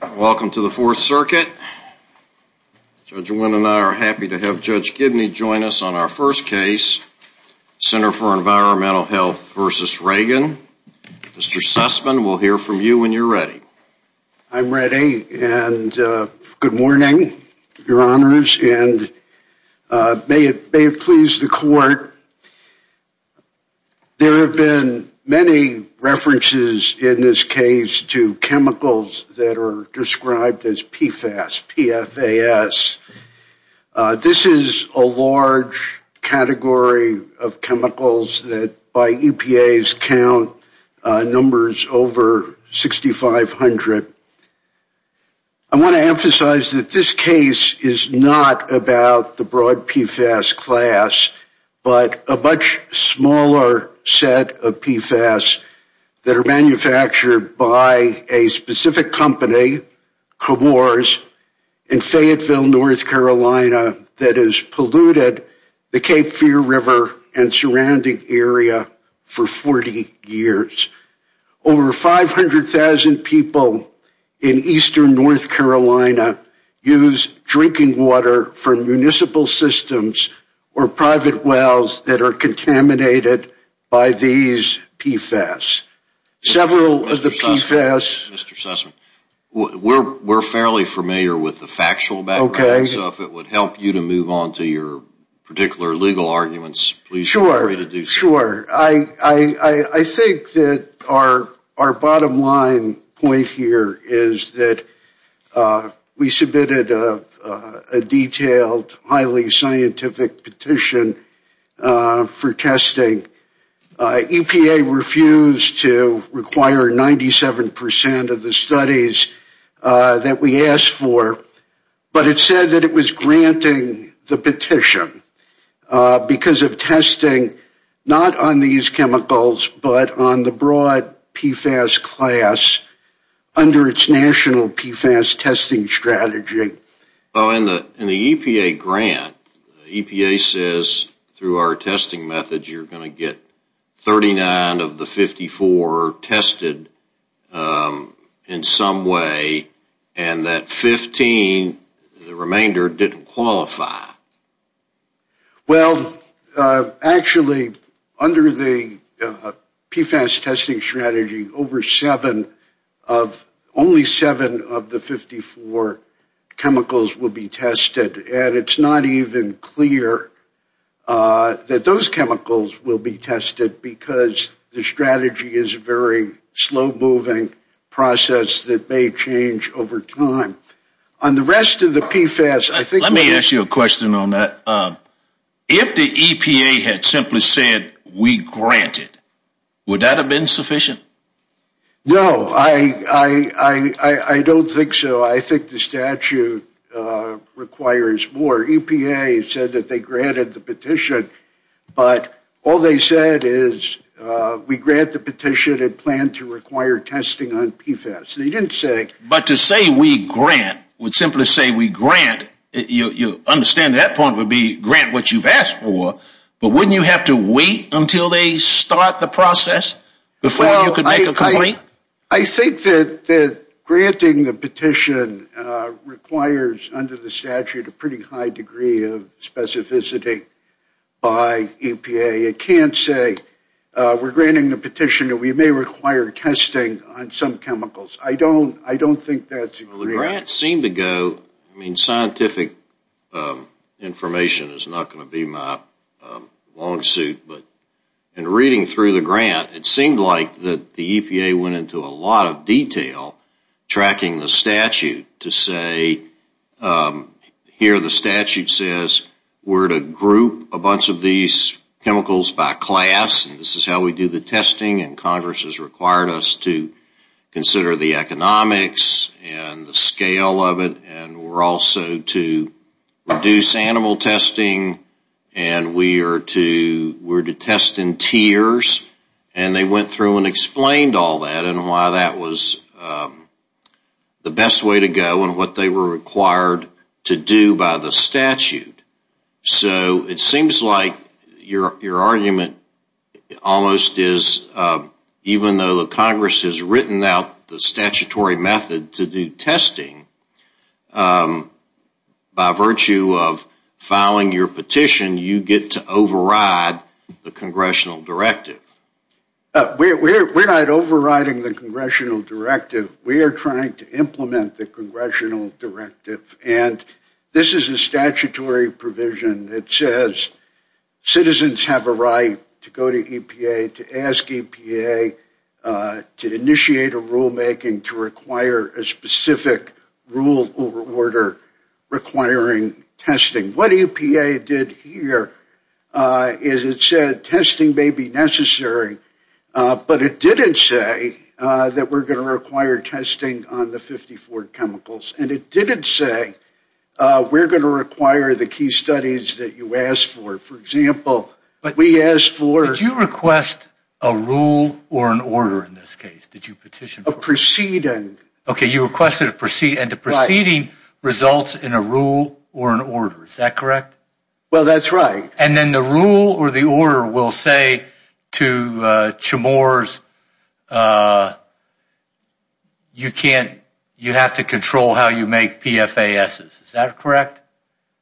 Welcome to the Fourth Circuit. Judge Wynn and I are happy to have Judge Gibney join us on our first case, Center for Environmental Health v. Regan. Mr. Sussman, we'll hear from you when you're ready. I'm ready, and good morning, Your Honors, and may it please the Court, there have been many references in this case to chemicals that are described as PFAS, P-F-A-S. This is a large category of chemicals that, by EPA's count, numbers over 6,500. I want to emphasize that this case is not about the broad PFAS class, but a much smaller set of PFAS that are manufactured by a specific company, Comores, in Fayetteville, North Carolina, that has polluted the Cape Fear River and surrounding area for 40 years. Over 500,000 people in eastern North Carolina use drinking water from municipal systems or private wells that are contaminated by these PFAS. Several of the PFAS... Mr. Sussman, we're fairly familiar with the factual background, so if it would help you to move on to your particular legal arguments, please feel free to do so. Sure, sure. I think that our bottom line point here is that we submitted a detailed, highly scientific petition for testing. EPA refused to require 97% of the studies that we asked for, but it said that it was granting the petition because of testing, not on these chemicals, but on the broad PFAS class under its national PFAS testing strategy. In the EPA grant, EPA says through our testing methods you're going to get 39 of the 54 tested in some way, and that 15, the remainder, didn't qualify. Well, actually, under the PFAS testing strategy, only seven of the 54 chemicals will be tested, and it's not even clear that those chemicals will be tested because the strategy is a very slow-moving process that may change over time. On the rest of the PFAS, I think... If the EPA had simply said, we grant it, would that have been sufficient? No, I don't think so. I think the statute requires more. EPA said that they granted the petition, but all they said is, we grant the petition and plan to require testing on PFAS. They didn't say... But to say, we grant, would simply say, we grant, you understand that point would be, grant what you've asked for, but wouldn't you have to wait until they start the process before you could make a complaint? I think that granting the petition requires, under the statute, a pretty high degree of specificity by EPA. It can't say, we're granting the petition that we may require testing on some chemicals. I don't think that's... Well, the grant seemed to go... I mean, scientific information is not going to be my long suit, but in reading through the grant, it seemed like that the EPA went into a lot of detail tracking the statute to say, here the statute says, we're to group a bunch of these chemicals by class, and this is how we do the testing, and Congress has required us to consider the economics and the scale of it, and we're also to reduce animal testing, and we are to, we're to test in tiers, and they went through and explained all that, and why that was the best way to go, and what they were required to do by the statute. So, it seems like your argument almost is, even though the Congress has written out the statutory method to do testing, by virtue of filing your petition, you get to override the congressional directive. We're not overriding the congressional directive. We are trying to implement the congressional directive, and this is a statutory provision that says citizens have a right to go to EPA, to ask EPA to initiate a rulemaking to require a specific rule or order requiring testing. What EPA did here is it said testing may be necessary, but it didn't say that we're going to require testing on the 54 chemicals, and it didn't say we're going to require the key studies that you asked for. For example, we asked for... Did you request a rule or an order in this case? Did you petition? A proceeding. Okay, you requested a proceeding, and the proceeding results in a rule or an order. Is that correct? Well, that's right. And then the rule or the order will say to Chamorros, you have to control how you make PFASs. Is that correct?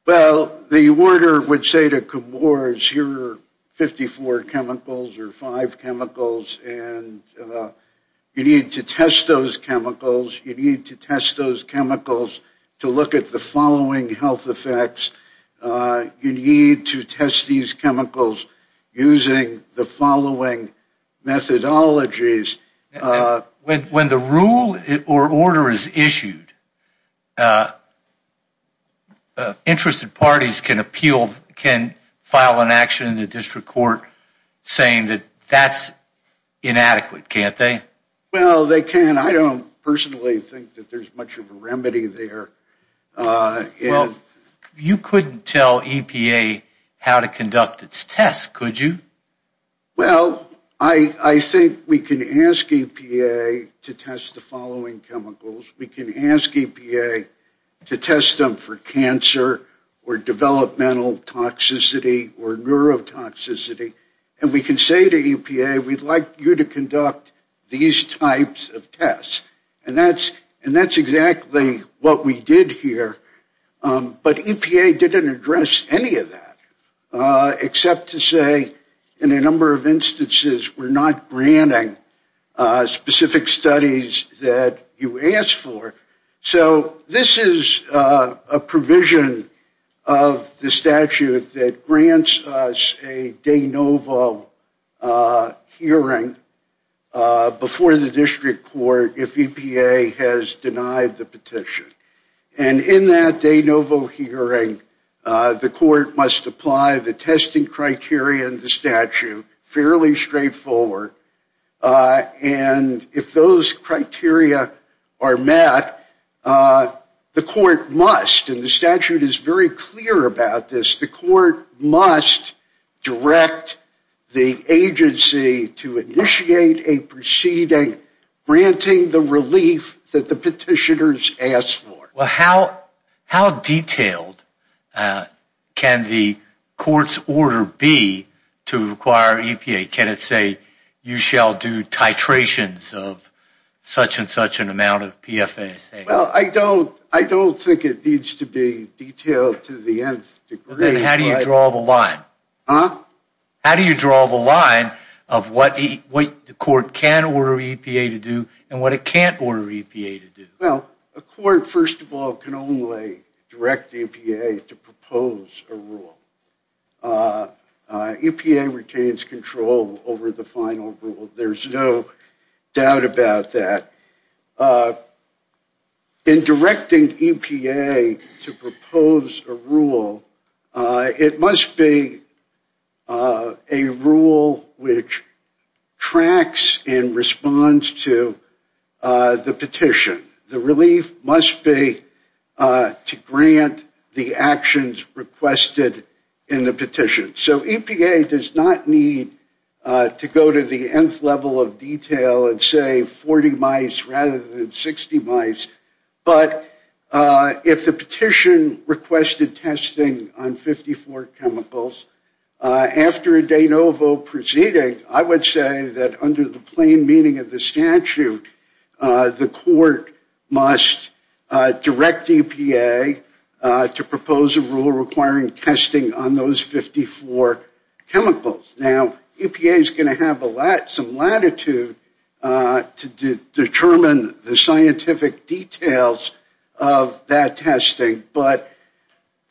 Well, the order would say to Chamorros, here are 54 chemicals or 5 chemicals, and you need to test those chemicals. You need to test those chemicals to look at the following health effects. You need to test these chemicals using the following methodologies. When the rule or order is issued, interested parties can file an action in the district court saying that that's inadequate, can't they? Well, they can. I don't personally think that there's much of a remedy there. Well, you couldn't tell EPA how to conduct its tests, could you? Well, I think we can ask EPA to test the following chemicals. We can ask EPA to test them for cancer or developmental toxicity or neurotoxicity, and we can say to EPA, we'd like you to conduct these types of tests. And that's exactly what we did here. But EPA didn't address any of that except to say, in a number of instances, we're not granting specific studies that you asked for. So this is a provision of the statute that grants us a de novo hearing before the district court if EPA has denied the petition. And in that de novo hearing, the court must apply the testing criteria in the statute, fairly straightforward. And if those criteria are met, the court must, and the statute is very clear about this, the court must direct the agency to initiate a proceeding granting the relief that the petitioners asked for. How detailed can the court's order be to require EPA? Can it say, you shall do titrations of such and such an amount of PFSA? Well, I don't think it needs to be detailed to the nth degree. How do you draw the line? How do you draw the line of what the court can order EPA to do and what it can't order EPA to do? Well, a court, first of all, can only direct EPA to propose a rule. EPA retains control over the final rule. There's no doubt about that. In directing EPA to propose a rule, it must be a rule which tracks and responds to the petition. The relief must be to grant the actions requested in the petition. So EPA does not need to go to the nth level of detail and say 40 mice rather than 60 mice. But if the petition requested testing on 54 chemicals after a de novo proceeding, I would say that under the plain meaning of the statute, the court must direct EPA to propose a rule requiring testing on those 54 chemicals. Now, EPA is going to have some latitude to determine the scientific details of that testing. But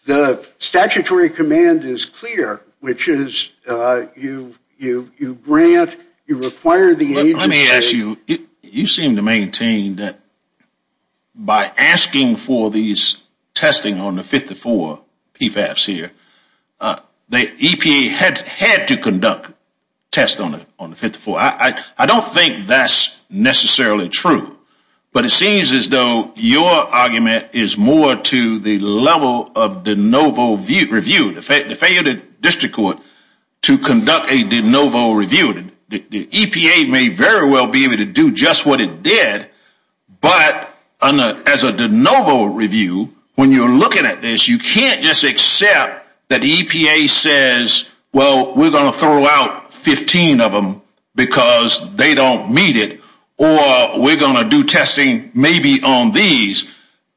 the statutory command is clear, which is you grant, you require the agency. Let me ask you, you seem to maintain that by asking for these testing on the 54 PFAS here, the EPA had to conduct tests on the 54. I don't think that's necessarily true. But it seems as though your argument is more to the level of de novo review, the failed district court, to conduct a de novo review. The EPA may very well be able to do just what it did, but as a de novo review, when you're looking at this, you can't just accept that EPA says, well, we're going to throw out 15 of them because they don't meet it, or we're going to do testing maybe on these.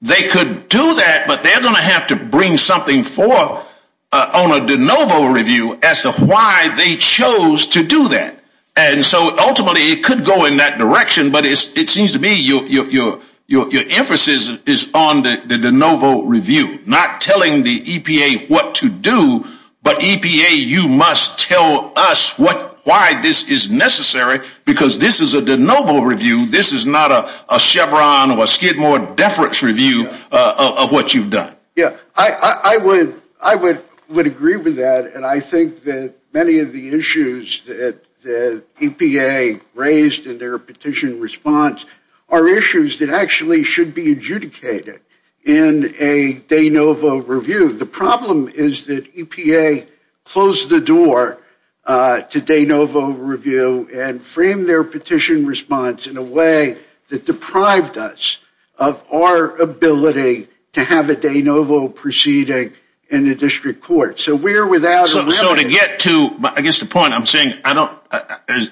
They could do that, but they're going to have to bring something forth on a de novo review as to why they chose to do that. And so ultimately, it could go in that direction. But it seems to me your emphasis is on the de novo review, not what you do, but EPA, you must tell us why this is necessary, because this is a de novo review. This is not a Chevron or a Skidmore deference review of what you've done. Yeah, I would agree with that, and I think that many of the issues that EPA raised in their petition response are issues that actually should be adjudicated in a de novo review. The problem is that EPA closed the door to de novo review and framed their petition response in a way that deprived us of our ability to have a de novo proceeding in the district court. So to get to, I guess the point I'm saying,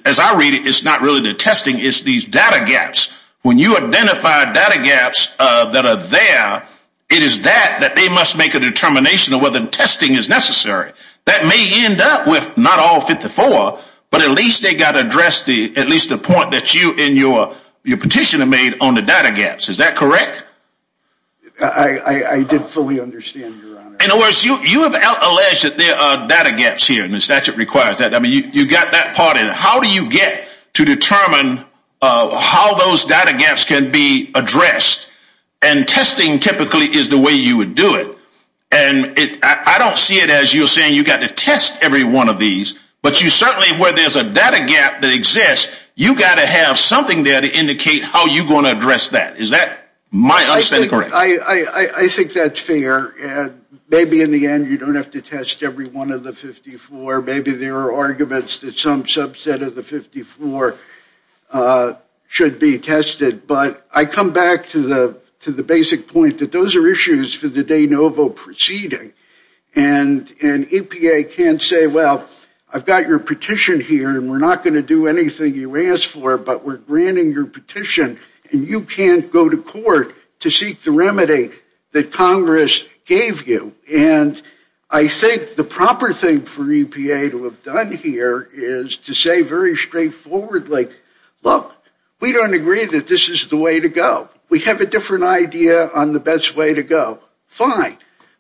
as I read it, it's not really the testing, it's these data gaps. When you identify data gaps that are there, it is that that they must make a determination of whether testing is necessary. That may end up with not all 54, but at least they got addressed, at least the point that you and your petitioner made on the data gaps. Is that correct? I did fully understand, Your Honor. In other words, you have alleged that there are data gaps here, and the statute requires that. I mean, you got that part in it. How do you get to determine how those data gaps can be addressed? And testing typically is the way you would do it. And I don't see it as you're saying you got to test every one of these, but you certainly, where there's a data gap that exists, you got to have something there to indicate how you're going to address that. Is that my understanding? I think that's fair. Maybe in the end, you don't have to test every one of the 54. Maybe there are arguments that some subset of the 54 should be tested. But I come back to the basic point that those are issues for the de novo proceeding. And EPA can't say, well, I've got your petition here, and we're not going to do anything you ask for, but we're granting your petition. And you can't go to court to seek the remedy that Congress gave you. And I think the proper thing for EPA to have done here is to say very straightforwardly, look, we don't agree that this is the way to go. We have a different idea on the best way to go. Fine.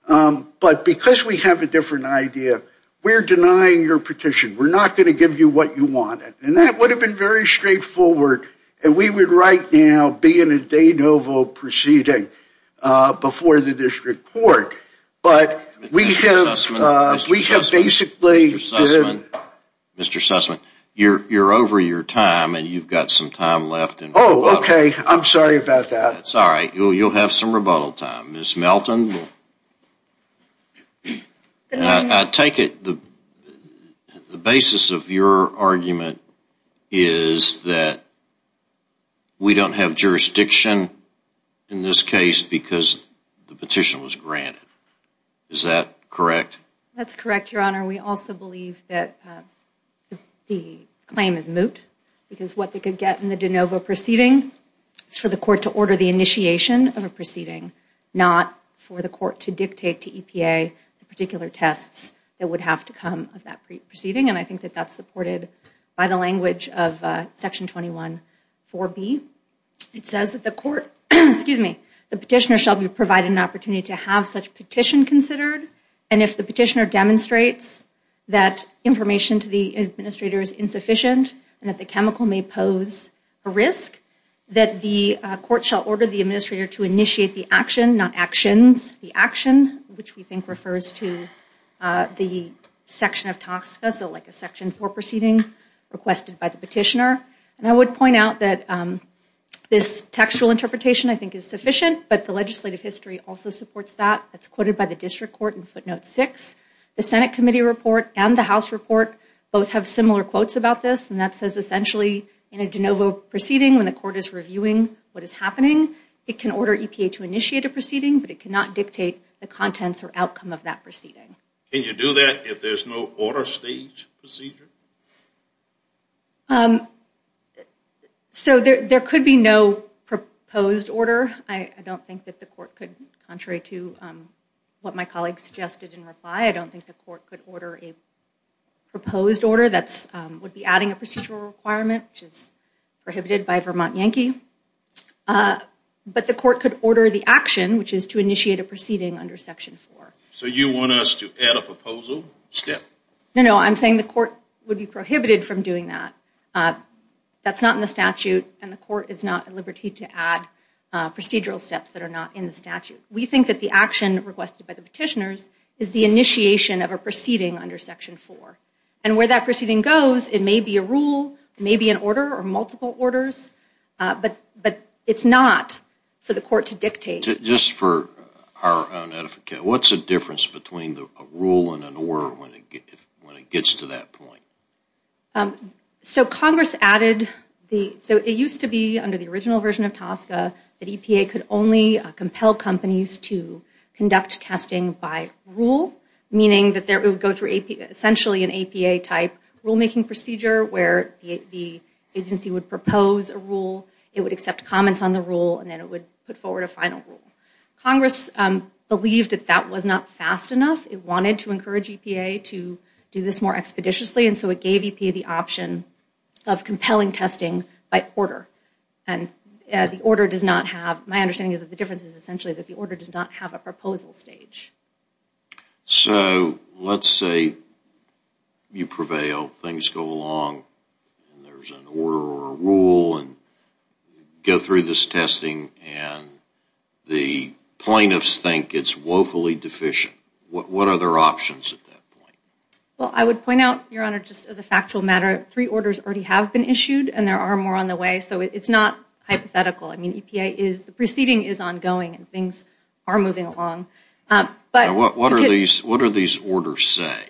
But because we have a different idea, we're denying your petition. We're not going to give you what you wanted. And that would have been very straightforward. And we would right now be in a de novo proceeding before the district court. But we have basically Mr. Sussman, you're over your time, and you've got some time left. Oh, okay. I'm sorry about that. Sorry. You'll have some rebuttal time. Ms. Melton. I take it the basis of your argument is that we don't have jurisdiction in this case because the petition was granted. Is that correct? That's correct, Your Honor. We also believe that the claim is moot because what they could get in the de novo proceeding is for the court to order the initiation of a proceeding, not for the court to dictate to EPA the particular tests that would have to come of that proceeding. And I think that that's supported by the language of Section 21-4B. It says that the court, excuse me, the petitioner shall be provided an opportunity to have such petition considered. And if the petitioner demonstrates that information to the administrator is insufficient and that the chemical may pose a risk, that the court shall order the administrator to initiate the action, not actions, the action, which we think refers to the section of TSCA, so like a Section 4 proceeding requested by the petitioner. And I would point out that this textual interpretation I think is sufficient, but the legislative history also supports that. It's quoted by the district court in footnote 6. The Senate committee report and the House report both have similar quotes about this, and that says essentially in a de novo proceeding when the court is reviewing what is happening, it can order EPA to initiate a proceeding, but it cannot dictate the contents or outcome of that proceeding. Can you do that if there's no order stage procedure? So there could be no proposed order. I don't think that the court could, contrary to what my colleague suggested in reply, I don't think the court could order a proposed order that would be adding a procedural requirement, which is prohibited by Vermont Yankee. But the court could order the action, which is to initiate a proceeding under Section 4. So you want us to add a proposal step? No, no, I'm saying the court would be prohibited from doing that. That's not in the statute, and the court is not at liberty to add procedural steps that are not in the statute. We think that the action requested by the petitioners is the initiation of a proceeding under Section 4. And where that proceeding goes, it may be a rule, it may be an order or multiple orders, but it's not for the court to dictate. Just for our own edificate, what's the difference between a rule and an order when it gets to that point? So Congress added, so it used to be under the original version of TSCA that EPA could only compel companies to conduct testing by rule, meaning that they would go through essentially an APA type rulemaking procedure where the agency would propose a rule, it would accept comments on the rule, and then it would put forward a final rule. Congress believed that that was not fast enough. It wanted to encourage EPA to do this more expeditiously, and so it gave EPA the option of compelling testing by order. And the order does not have, my understanding is that the difference is essentially that the order does not have a proposal stage. So let's say you prevail, things go along, and there's an order or a rule, and you go through this testing, and the plaintiffs think it's woefully deficient. What are their options at that point? Well, I would point out, Your Honor, just as a factual matter, three orders already have been issued, and there are more on the way, so it's not hypothetical. I mean, EPA is, the proceeding is ongoing, and things are moving along. But what are these orders say?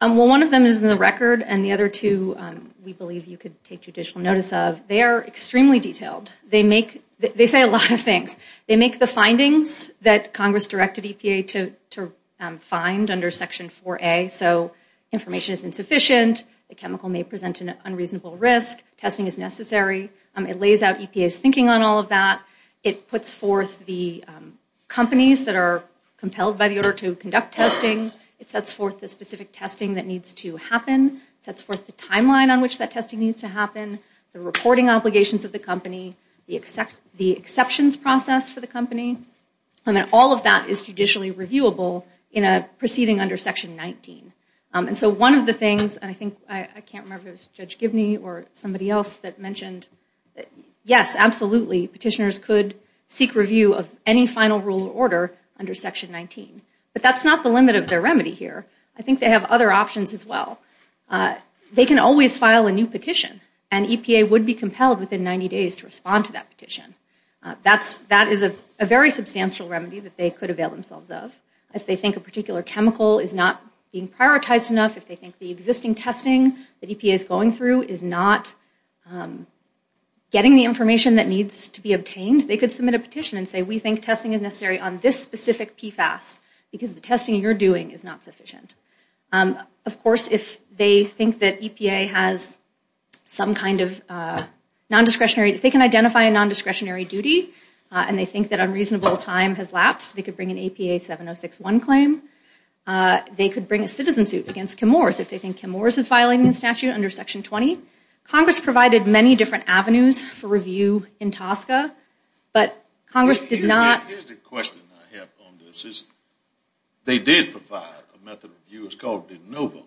Well, one of them is in the record, and the other two we believe you could take judicial notice of. They are extremely detailed. They make, they say a lot of things. They make the findings that Congress directed EPA to find under Section 4A, so information is insufficient, the chemical may present an unreasonable risk, testing is necessary. It lays out EPA's thinking on all of that. It puts forth the companies that are compelled by the order to conduct testing. It sets forth the specific testing that needs to happen. It sets forth the timeline on which that testing needs to happen, the reporting obligations of the company, the exceptions process for the company, and all of that is judicially reviewable in a proceeding under Section 19. And so one of the things, and I think, I can't remember if it was Judge Gibney or somebody else that mentioned, yes, absolutely, petitioners could seek review of any final rule or order under Section 19, but that's not the limit of their remedy here. I think they have other options as well. They can always file a new petition, and EPA would be compelled within 90 days to respond to that petition. That is a very substantial remedy that they could avail themselves of. If they think a particular chemical is not being prioritized enough, if they think the existing testing that EPA is going through is not getting the information that needs to be obtained, they could submit a petition and say, we think testing is necessary on this specific PFAS because the testing you're doing is not sufficient. Of course, if they think that EPA has some kind of non-discretionary, if they can identify a non-discretionary duty, and they think that unreasonable time has lapsed, they could bring an APA 7061 claim. They could bring a citizen suit against Kim Morris if they think Kim Morris is violating the statute under Section 20. Congress provided many different avenues for review in TSCA, but Congress did not... Here's the question I have on this. They did provide a method of review, it's called de novo,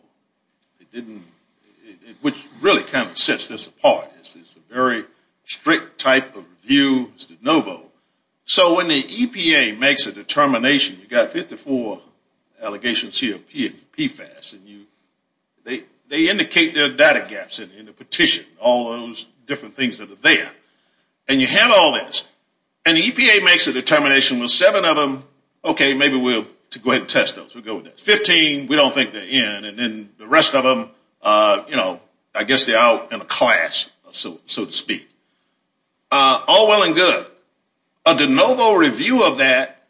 which really kind of sets this apart. It's a very strict type of review, it's de novo. So when the EPA makes a determination, you've got 54 allegations here for PFAS, and they indicate their data gaps in the petition, all those different things that are there. And you have all this, and the EPA makes a determination with seven of them, okay, maybe we'll go ahead and test those. We'll go with that. Fifteen, we don't think they're in, and then the rest of them, I guess they're out in a class, so to speak. All well and good. A de novo review of that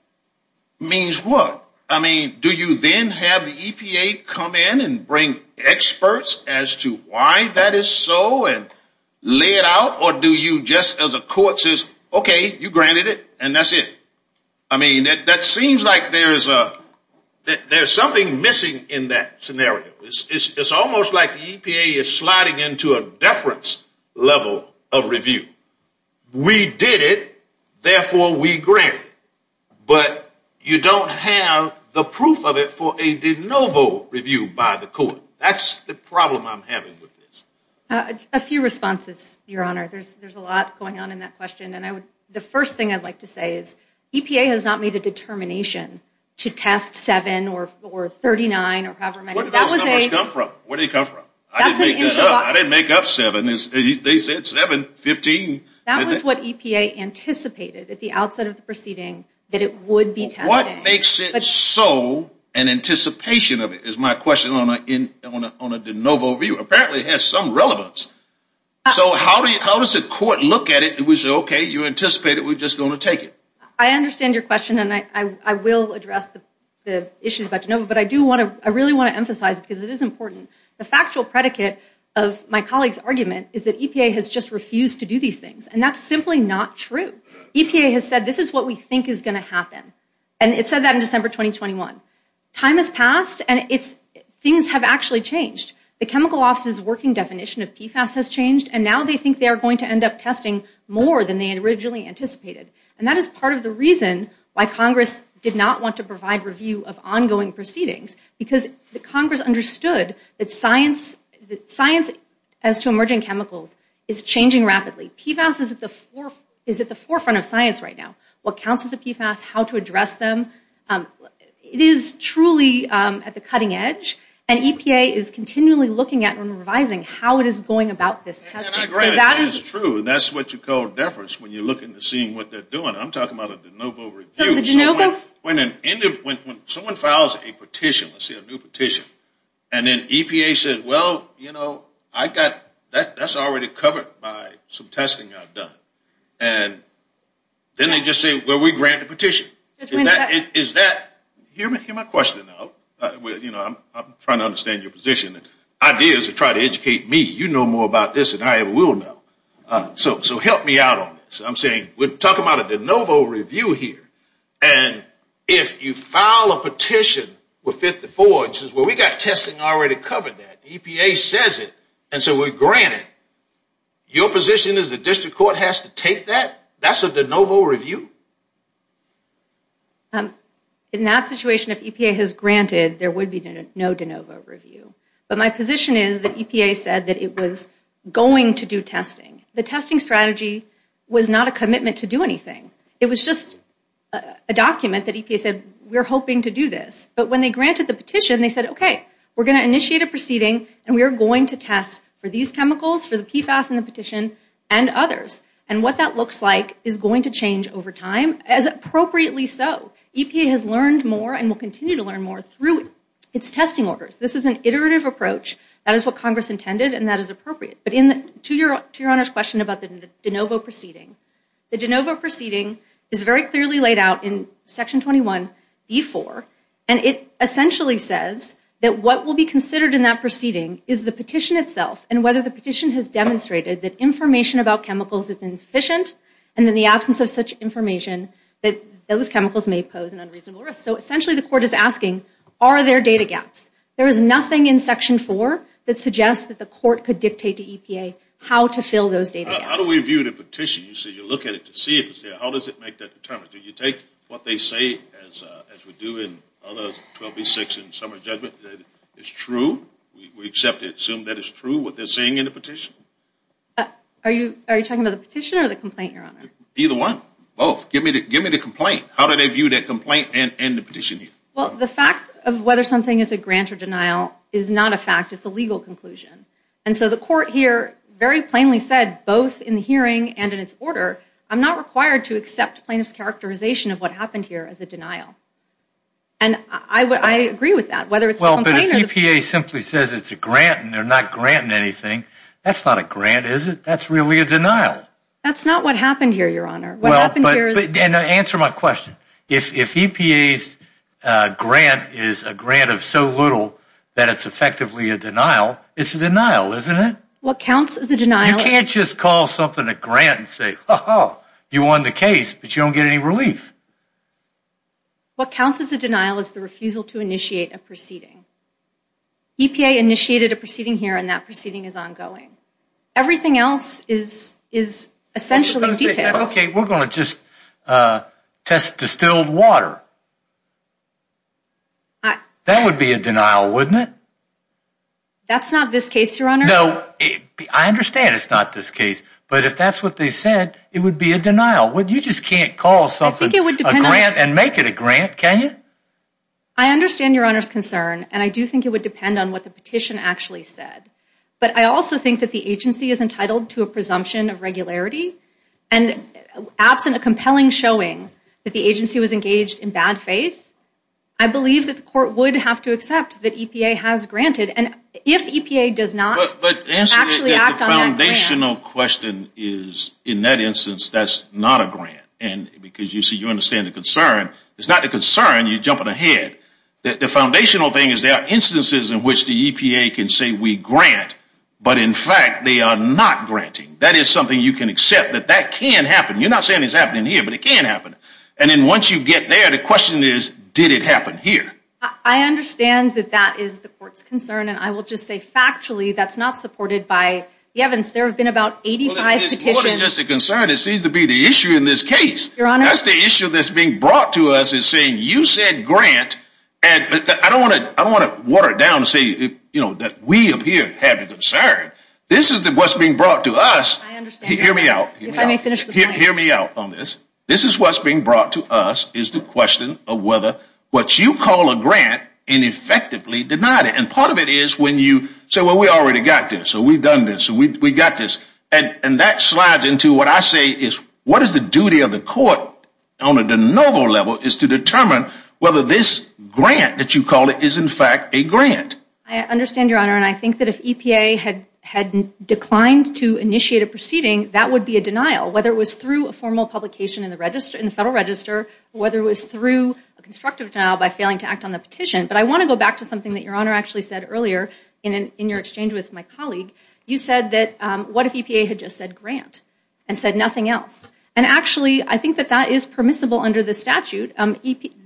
means what? I mean, do you then have the EPA come in and bring experts as to why that is so and lay it out, or do you just as a court says, okay, you granted it, and that's it? I mean, that seems like there's something missing in that scenario. It's almost like the EPA is sliding into a deference level of review. We did it, therefore, we grant it. But you don't have the proof of it for a de novo review by the court. That's the problem I'm having with this. A few responses, Your Honor. There's a lot going on in that question, and the first thing I'd like to say is EPA has not made a determination to test seven or 39 or however many. Where did those numbers come from? I didn't make up seven. They said seven, fifteen. That was what EPA anticipated at the outset of the proceeding, that it would be tested. What makes it so an anticipation of it is my question on a de novo review. Apparently, it has some relevance. So how does the court look at it and say, okay, you anticipated, we're just going to take it? I understand your question, and I will address the issues about de novo, but I really want to emphasize, because it is important, the factual predicate of my colleague's argument is EPA has just refused to do these things, and that's simply not true. EPA has said this is what we think is going to happen, and it said that in December 2021. Time has passed, and things have actually changed. The chemical office's working definition of PFAS has changed, and now they think they are going to end up testing more than they originally anticipated, and that is part of the reason why Congress did not want to provide review of ongoing proceedings, because the Congress understood that science as to emerging chemicals is changing rapidly. PFAS is at the forefront of science right now, what counts as a PFAS, how to address them. It is truly at the cutting edge, and EPA is continually looking at and revising how it is going about this testing. That is true, and that's what you call deference when you're looking to seeing what they're doing. I'm talking about a de novo review. When someone files a petition, let's say a new petition, and then EPA says, well, you know, I've got, that's already covered by some testing I've done, and then they just say, well, we grant the petition. Is that, hear my question out. I'm trying to understand your position. The idea is to try to educate me. You know more about this than I ever will know, so help me out on this. I'm saying, we're talking about a de novo review here, and if you file a petition with 54, it says, well, we got testing already covered that. EPA says it, and so we grant it. Your position is the district court has to take that? That's a de novo review? In that situation, if EPA has granted, there would be no de novo review, but my position is that EPA said that it was going to do testing. The testing strategy was not a commitment to do anything. It was just a document that EPA said, we're hoping to do this, but when they granted the petition, they said, okay, we're going to initiate a proceeding, and we are going to test for these chemicals, for the PFAS in the petition, and others, and what that looks like is going to change over time, as appropriately so. EPA has learned more and will continue to learn through its testing orders. This is an iterative approach. That is what Congress intended, and that is appropriate, but to your Honor's question about the de novo proceeding, the de novo proceeding is very clearly laid out in section 21b4, and it essentially says that what will be considered in that proceeding is the petition itself, and whether the petition has demonstrated that information about chemicals is insufficient, and in the absence of such information, that those chemicals may pose an unreasonable risk. So essentially, the court is asking, are there data gaps? There is nothing in section four that suggests that the court could dictate to EPA how to fill those data gaps. How do we view the petition? You say you look at it to see if it's there. How does it make that determination? Do you take what they say, as we do in other 12b6 in summary judgment, that it's true? We accept it, assume that it's true, what they're saying in the petition? Are you talking about the petition or the complaint, your Honor? Either one, both. Give me the complaint. How do they view that complaint and the petition? Well, the fact of whether something is a grant or denial is not a fact. It's a legal conclusion, and so the court here very plainly said, both in the hearing and in its order, I'm not required to accept plaintiff's characterization of what happened here as a denial, and I agree with that, whether it's the complaint or the... Well, but EPA simply says it's a grant, and they're not granting anything. That's not a grant, is it? That's really a denial. That's not what happened here, your Honor. What happened here is... And answer my question. If EPA's grant is a grant of so little that it's effectively a denial, it's a denial, isn't it? What counts as a denial... You can't just call something a grant and say, oh, you won the case, but you don't get any relief. What counts as a denial is the refusal to initiate a proceeding. EPA initiated a proceeding here, and that proceeding is ongoing. Everything else is essentially details. Okay, we're going to just test distilled water. That would be a denial, wouldn't it? That's not this case, your Honor. No, I understand it's not this case, but if that's what they said, it would be a denial. You just can't call something a grant and make it a grant, can you? I understand your Honor's concern, and I do think it would depend on what the petition actually said, but I also think that the agency is entitled to a presumption of regularity, and absent a compelling showing that the agency was engaged in bad faith, I believe that the court would have to accept that EPA has granted, and if EPA does not actually act on that grant... The foundational question is, in that instance, that's not a grant, and because you see, you understand the concern, it's not a concern, you're jumping ahead. The foundational thing is there are instances in which the EPA can say we grant, but in fact, they are not granting. That is something you can accept, that that can happen. You're not saying it's happening here, but it can happen, and then once you get there, the question is, did it happen here? I understand that that is the court's concern, and I will just say factually, that's not supported by the Evans. There have been about 85 petitions... It's more than just a concern, it seems to be the issue in this case. That's the issue that's being brought to us, is saying, you said grant, and I don't want to water it down and say that we appear to have a concern. This is what's being brought to us. I understand. Hear me out. If I may finish the point. Hear me out on this. This is what's being brought to us, is the question of whether what you call a grant and effectively denied it, and part of it is when you say, well, we already got this, we've done this, and we got this, and that slides into what I say is, what is the duty of the court on a de novo level, is to determine whether this grant that you call it is in fact a grant. I understand, Your Honor, and I think that if EPA had declined to initiate a proceeding, that would be a denial, whether it was through a formal publication in the Federal Register, whether it was through a constructive denial by failing to act on the petition, but I want to go back to something that Your Honor actually said earlier in your exchange with my colleague. You said that what if EPA had just said grant and said nothing else, and actually, I think that that is permissible under the statute.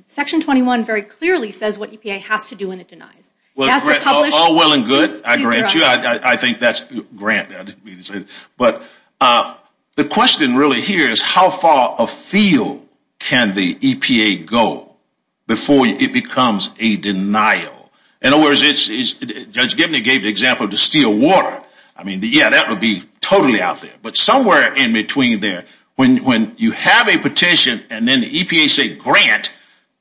Section 21 very clearly says what EPA has to do when it denies. Well, all well and good. I grant you. I think that's grant. But the question really here is how far afield can the EPA go before it becomes a denial? In other words, Judge Gibney gave the example of the steel water. I mean, yeah, that would be totally out there, but somewhere in between there, when you have a petition and then the EPA say grant,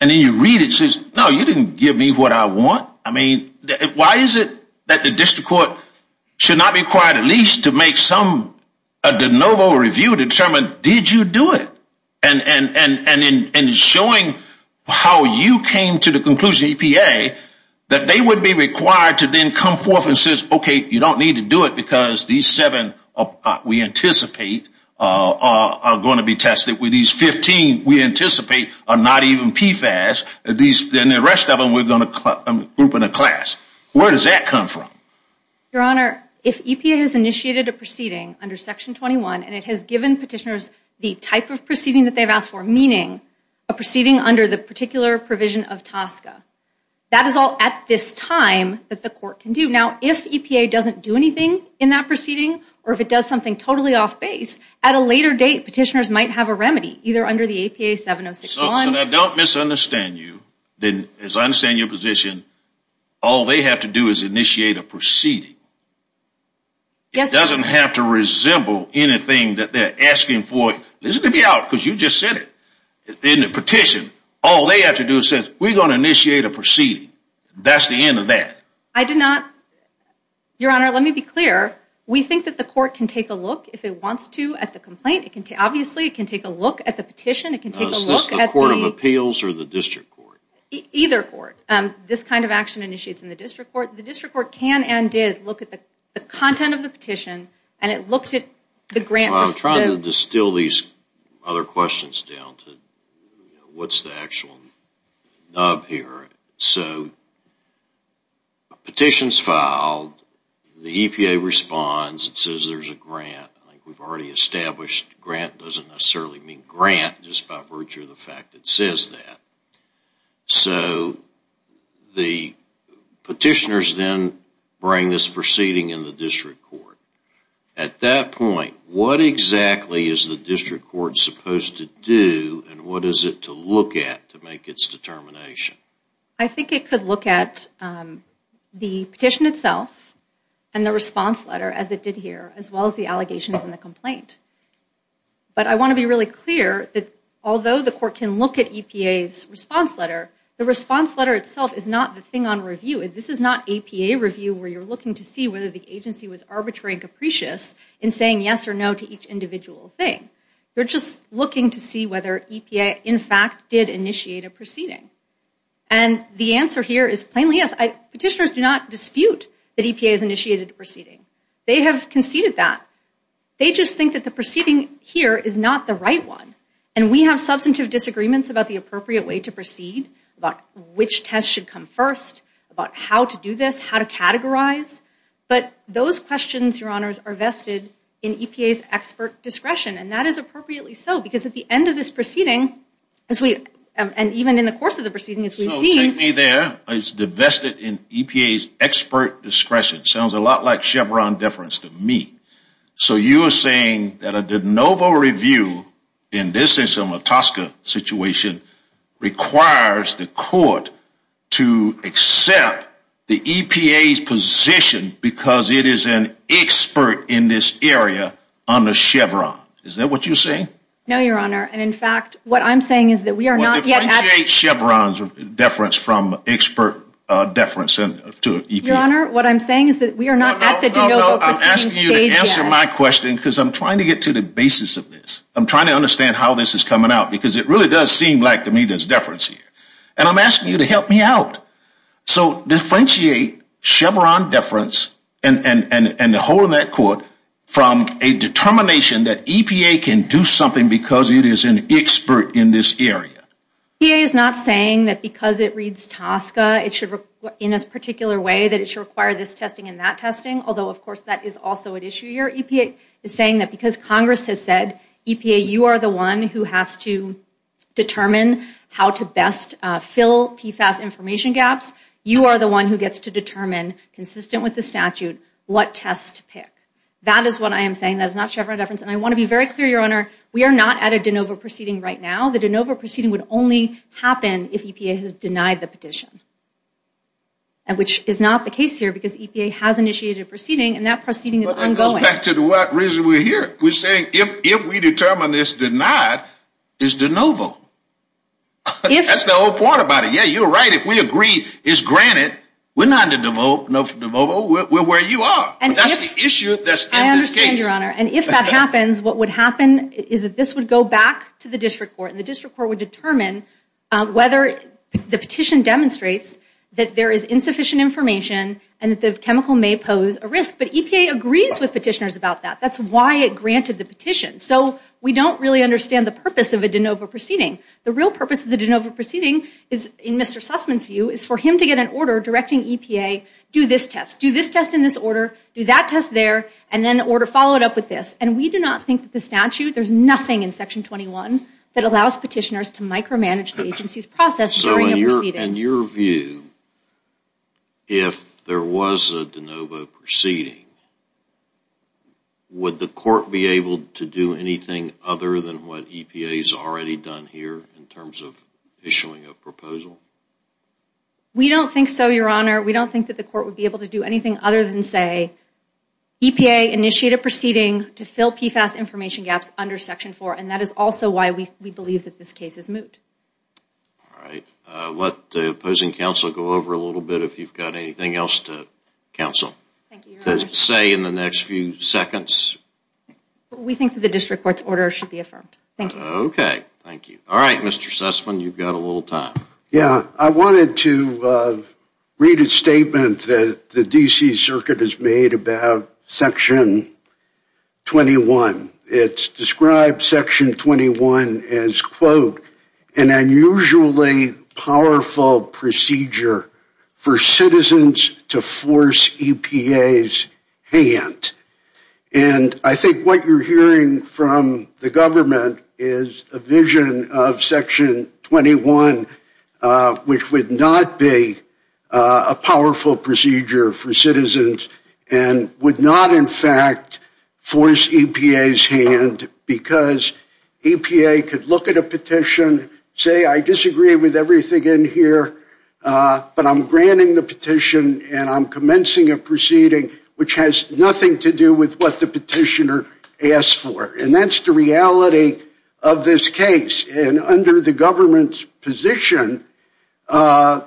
and then you read it, it says, no, you didn't give me what I want. I mean, why is it that the district court should not be required at least to make some review to determine, did you do it? And showing how you came to the conclusion, EPA, that they would be required to then come forth and say, okay, you don't need to do it because these seven we anticipate are going to be tested. With these 15, we anticipate are not even PFAS. At least then the rest of them, we're going to group in a class. Where does that come from? Your Honor, if EPA has initiated a proceeding under Section 21, and it has given petitioners the type of proceeding that they've asked for, meaning a proceeding under the particular provision of TSCA, that is all at this time that the court can do. Now, if EPA doesn't do anything in that proceeding, or if it does something totally off base, at a later date, petitioners might have a remedy, either under the APA 706-1. I don't misunderstand you. As I understand your position, all they have to do is initiate a proceeding. It doesn't have to resemble anything that they're asking for. Listen to me out, because you just said it. In the petition, all they have to do is say, we're going to initiate a proceeding. That's the end of that. I did not. Your Honor, let me be clear. We think that the court can take a look, if it wants to, at the complaint. Obviously, it can take a look at the petition. Is this the Court of Appeals or the District Court? Either Court. This kind of action initiates in the District Court. The District Court can and did look at the content of the petition, and it looked at the grant. I'm trying to distill these other questions down to what's the actual nub here. Petitions filed, the EPA responds, it says there's a grant. I think we've already established grant doesn't necessarily mean grant, just by virtue of the fact it says that. So, the petitioners then bring this proceeding in the District Court. At that point, what exactly is the District Court supposed to do, and what is it to look at to make its determination? I think it could look at the petition itself and the response letter, as it did here, as well as the allegations in the complaint. But I want to be really clear that although the court can look at EPA's response letter, the response letter itself is not the thing on review. This is not EPA review, where you're looking to see whether the agency was arbitrary and capricious in saying yes or no to each individual thing. They're just looking to see whether EPA, in fact, did initiate a proceeding. And the answer here is plainly yes. Petitioners do not dispute that EPA has initiated a proceeding. They have conceded that. They just think that the proceeding here is not the right one, and we have substantive disagreements about the appropriate way to proceed, about which test should come first, about how to do this, how to categorize. But those questions, Your Honors, are vested in EPA's expert discretion, and that is appropriately so, because at the end of this proceeding, as we, and even in the course of the proceeding, as we've seen, the EPA's position, because it is an expert in this area, under Chevron. Is that what you're saying? No, Your Honor. And in fact, what I'm saying is that we are not yet at... Well, differentiate Chevron's deference from expert deference to EPA. Your Honor, what I'm saying is that we are not at the de novo proceeding stage yet. I'm asking you to answer my question, because I'm trying to get to the basis of this. I'm trying to understand how this is coming out, because it really does seem like, to me, there's deference here. And I'm asking you to help me out. So differentiate Chevron deference and the whole of that court from a determination that EPA can do something because it is an expert in this area. EPA is not saying that because it reads TSCA, it should, in a particular way, require this testing and that testing. Although, of course, that is also an issue. Your EPA is saying that because Congress has said, EPA, you are the one who has to determine how to best fill PFAS information gaps. You are the one who gets to determine, consistent with the statute, what tests to pick. That is what I am saying. That is not Chevron deference. And I want to be very clear, Your Honor, we are not at a de novo proceeding right now. The de novo proceeding would only happen if EPA has denied the petition, which is not the case here because EPA has initiated a proceeding and that proceeding is ongoing. Well, that goes back to the reason we're here. We're saying if we determine this denied, it's de novo. That's the whole point about it. Yeah, you're right. If we agree, it's granted, we're not at de novo. We're where you are. That's the issue that's in this case. I understand, Your Honor. And if that happens, what would happen is that this would go back to the district court and the district court would determine whether the petition demonstrates that there is insufficient information and that the chemical may pose a risk. But EPA agrees with petitioners about that. That's why it granted the petition. So we don't really understand the purpose of a de novo proceeding. The real purpose of the de novo proceeding is, in Mr. Sussman's view, is for him to get an order directing EPA, do this test, do this test in this order, do that test there, and then order, follow it up with this. And we do not think that the statute, there's nothing in Section 21 that allows petitioners to micromanage the agency's process during a proceeding. In your view, if there was a de novo proceeding, would the court be able to do anything other than what EPA has already done here in terms of issuing a proposal? We don't think so, Your Honor. We don't think that the court would be able to do anything other than say, EPA initiated a proceeding to fill PFAS information gaps under Section 4, and that is also why we believe that this case is moot. All right. Let the opposing counsel go over a little bit if you've got anything else to counsel. Say in the next few seconds. We think that the district court's order should be affirmed. Thank you. Okay, thank you. All right, Mr. Sussman, you've got a little time. Yeah, I wanted to read a statement that the D.C. Circuit has made about Section 21. It's described Section 21 as, quote, an unusually powerful procedure for citizens to force EPA's hand. And I think what you're hearing from the government is a vision of Section 21, which would not be a powerful procedure for citizens and would not, in fact, force EPA's hand because EPA could look at a petition, say, I disagree with everything in here, but I'm granting the petition and I'm commencing a proceeding which has nothing to do with what the petitioner asked for. And that's the reality of this case. And under the government's position, that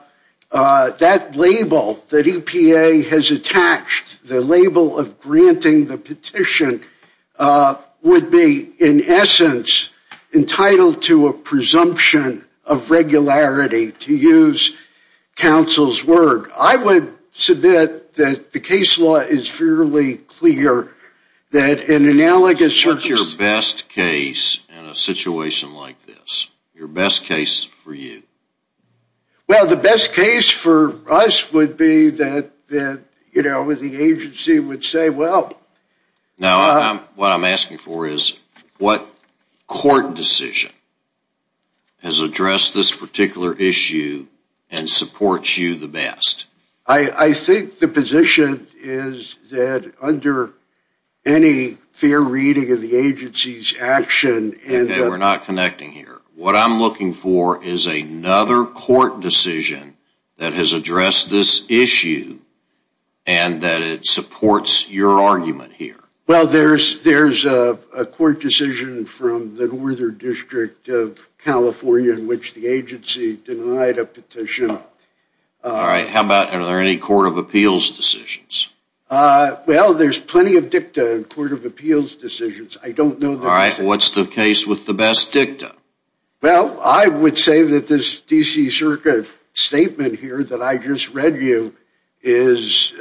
label that EPA has attached, the label of granting the petition, would be, in essence, entitled to a presumption of regularity, to use counsel's word. I would submit that the case law is fairly clear that an analogous... What is your best case in a situation like this? Your best case for you? Well, the best case for us would be that, you know, the agency would say, well... Now, what I'm asking for is what court decision has addressed this particular issue and supports you the best? I think the position is that under any fair reading of the agency's action... Okay, we're not connecting here. What I'm looking for is another court decision that has addressed this issue and that it supports your argument here. Well, there's a court decision from the Northern District of California in which the agency denied a petition. All right. Are there any court of appeals decisions? Well, there's plenty of dicta in court of appeals decisions. I don't know... All right. What's the case with the best dicta? Well, I would say that this D.C. Circuit statement here that I just read you is...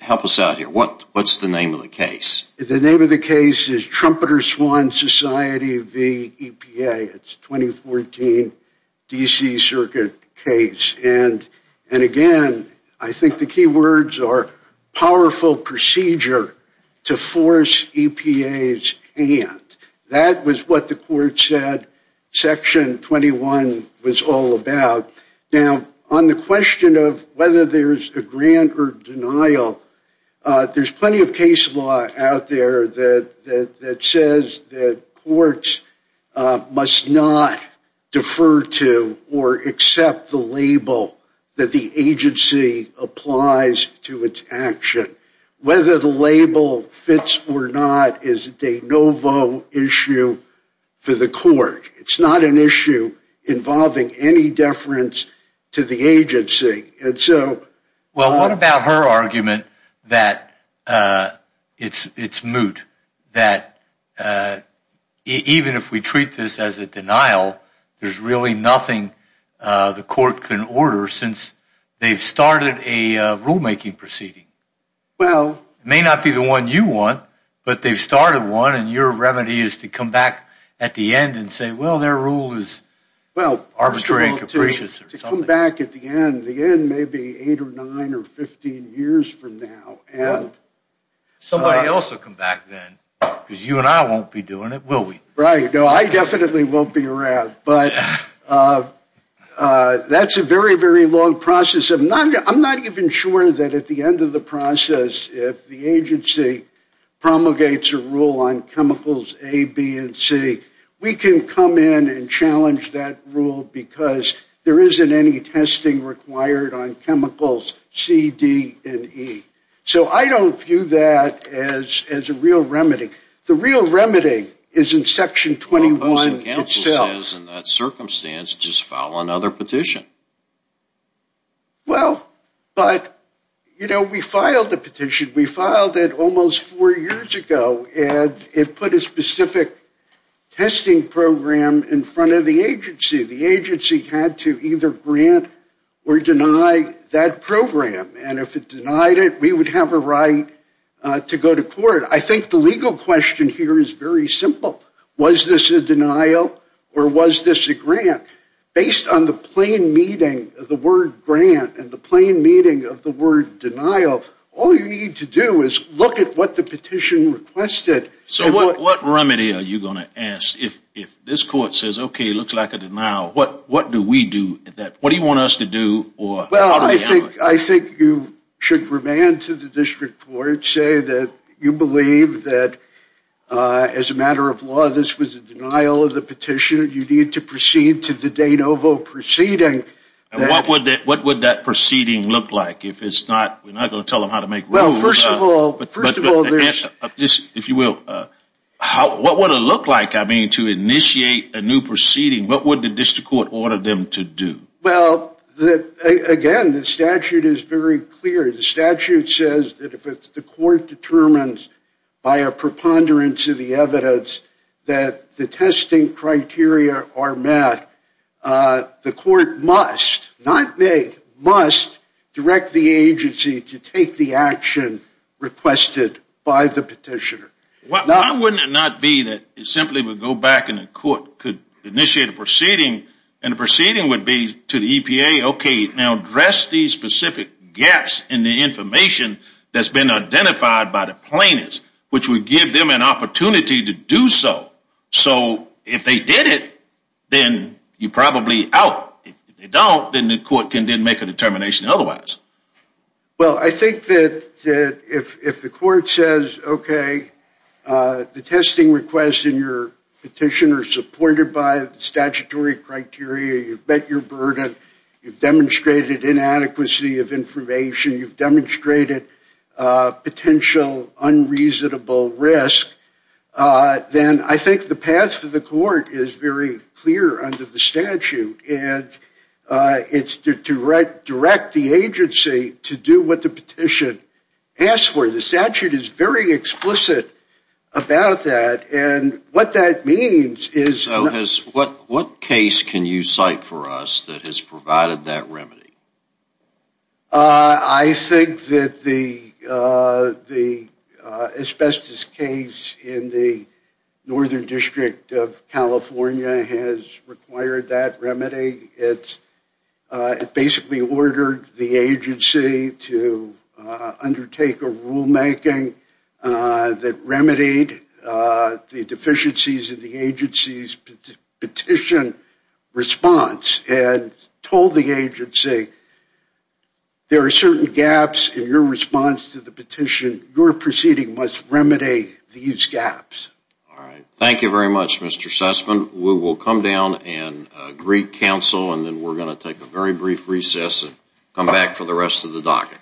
Help us out here. What's the name of the case? The name of the case is Trumpeter Swan Society v. EPA. It's 2014 D.C. Circuit case. And again, I think the key words are powerful procedure to force EPA's hand. That was what the court said Section 21 was all about. Now, on the question of whether there's a grant or denial, there's plenty of case law out there that says that courts must not defer to or accept the label that the agency applies to its action. Whether the label fits or not is a de novo issue for the court. It's not an issue involving any deference to the agency. And so... Well, what about her argument that it's moot, that even if we treat this as a denial, there's really nothing the court can order since they've started a rulemaking proceeding? Well... May not be the one you want, but they've started one. And your remedy is to come back at the end and say, well, their rule is arbitrary and capricious. To come back at the end, the end may be eight or nine or 15 years from now and... Somebody else will come back then because you and I won't be doing it, will we? Right. No, I definitely won't be around. But that's a very, very long process. I'm not even sure that at the end of the process, if the agency promulgates a rule on chemicals A, B, and C, we can come in and challenge that rule because there isn't any testing required on chemicals C, D, and E. So I don't view that as a real remedy. The real remedy is in Section 21. Well, Houston Chemicals says in that circumstance, just file another petition. We filed it almost four years ago and it put a specific testing program in front of the agency. The agency had to either grant or deny that program. And if it denied it, we would have a right to go to court. I think the legal question here is very simple. Was this a denial or was this a grant? Based on the plain meaning of the word grant and the plain meaning of the word denial, all you need to do is look at what the petition requested. So what remedy are you going to ask? If this court says, OK, it looks like a denial, what do we do at that point? What do you want us to do? Well, I think you should remand to the district court, say that you believe that as a matter of law, this was a denial of the petition. You need to proceed to the de novo proceeding. What would that proceeding look like? We're not going to tell them how to make rules. Well, first of all, if you will, what would it look like? I mean, to initiate a new proceeding, what would the district court order them to do? Well, again, the statute is very clear. The statute says that if the court determines by a preponderance of the evidence that the testing criteria are met, the court must, not may, must direct the agency to take the action requested by the petitioner. Why wouldn't it not be that it simply would go back and the court could initiate a proceeding and the proceeding would be to the EPA, OK, now address these specific gaps in the information that's been identified by the plaintiffs, which would give them an opportunity to do so. So if they did it, then you're probably out. If they don't, then the court can then make a determination otherwise. Well, I think that if the court says, OK, the testing requests in your petition are supported by the statutory criteria, you've met your burden, you've demonstrated inadequacy of information, you've demonstrated potential unreasonable risk, then I think the path of the court is very clear under the statute. And it's to direct the agency to do what the petition asks for. The statute is very explicit about that. And what that means is... What case can you cite for us that has provided that remedy? I think that the asbestos case in the Northern District of California has required that remedy. It basically ordered the agency to undertake a rulemaking that remedied the deficiencies of the agency's petition response and told the agency there are certain gaps in your response to the petition. Your proceeding must remedy these gaps. All right. Thank you very much, Mr. Sussman. We will come down and greet counsel, and then we're going to take a very brief recess and come back for the rest of the docket.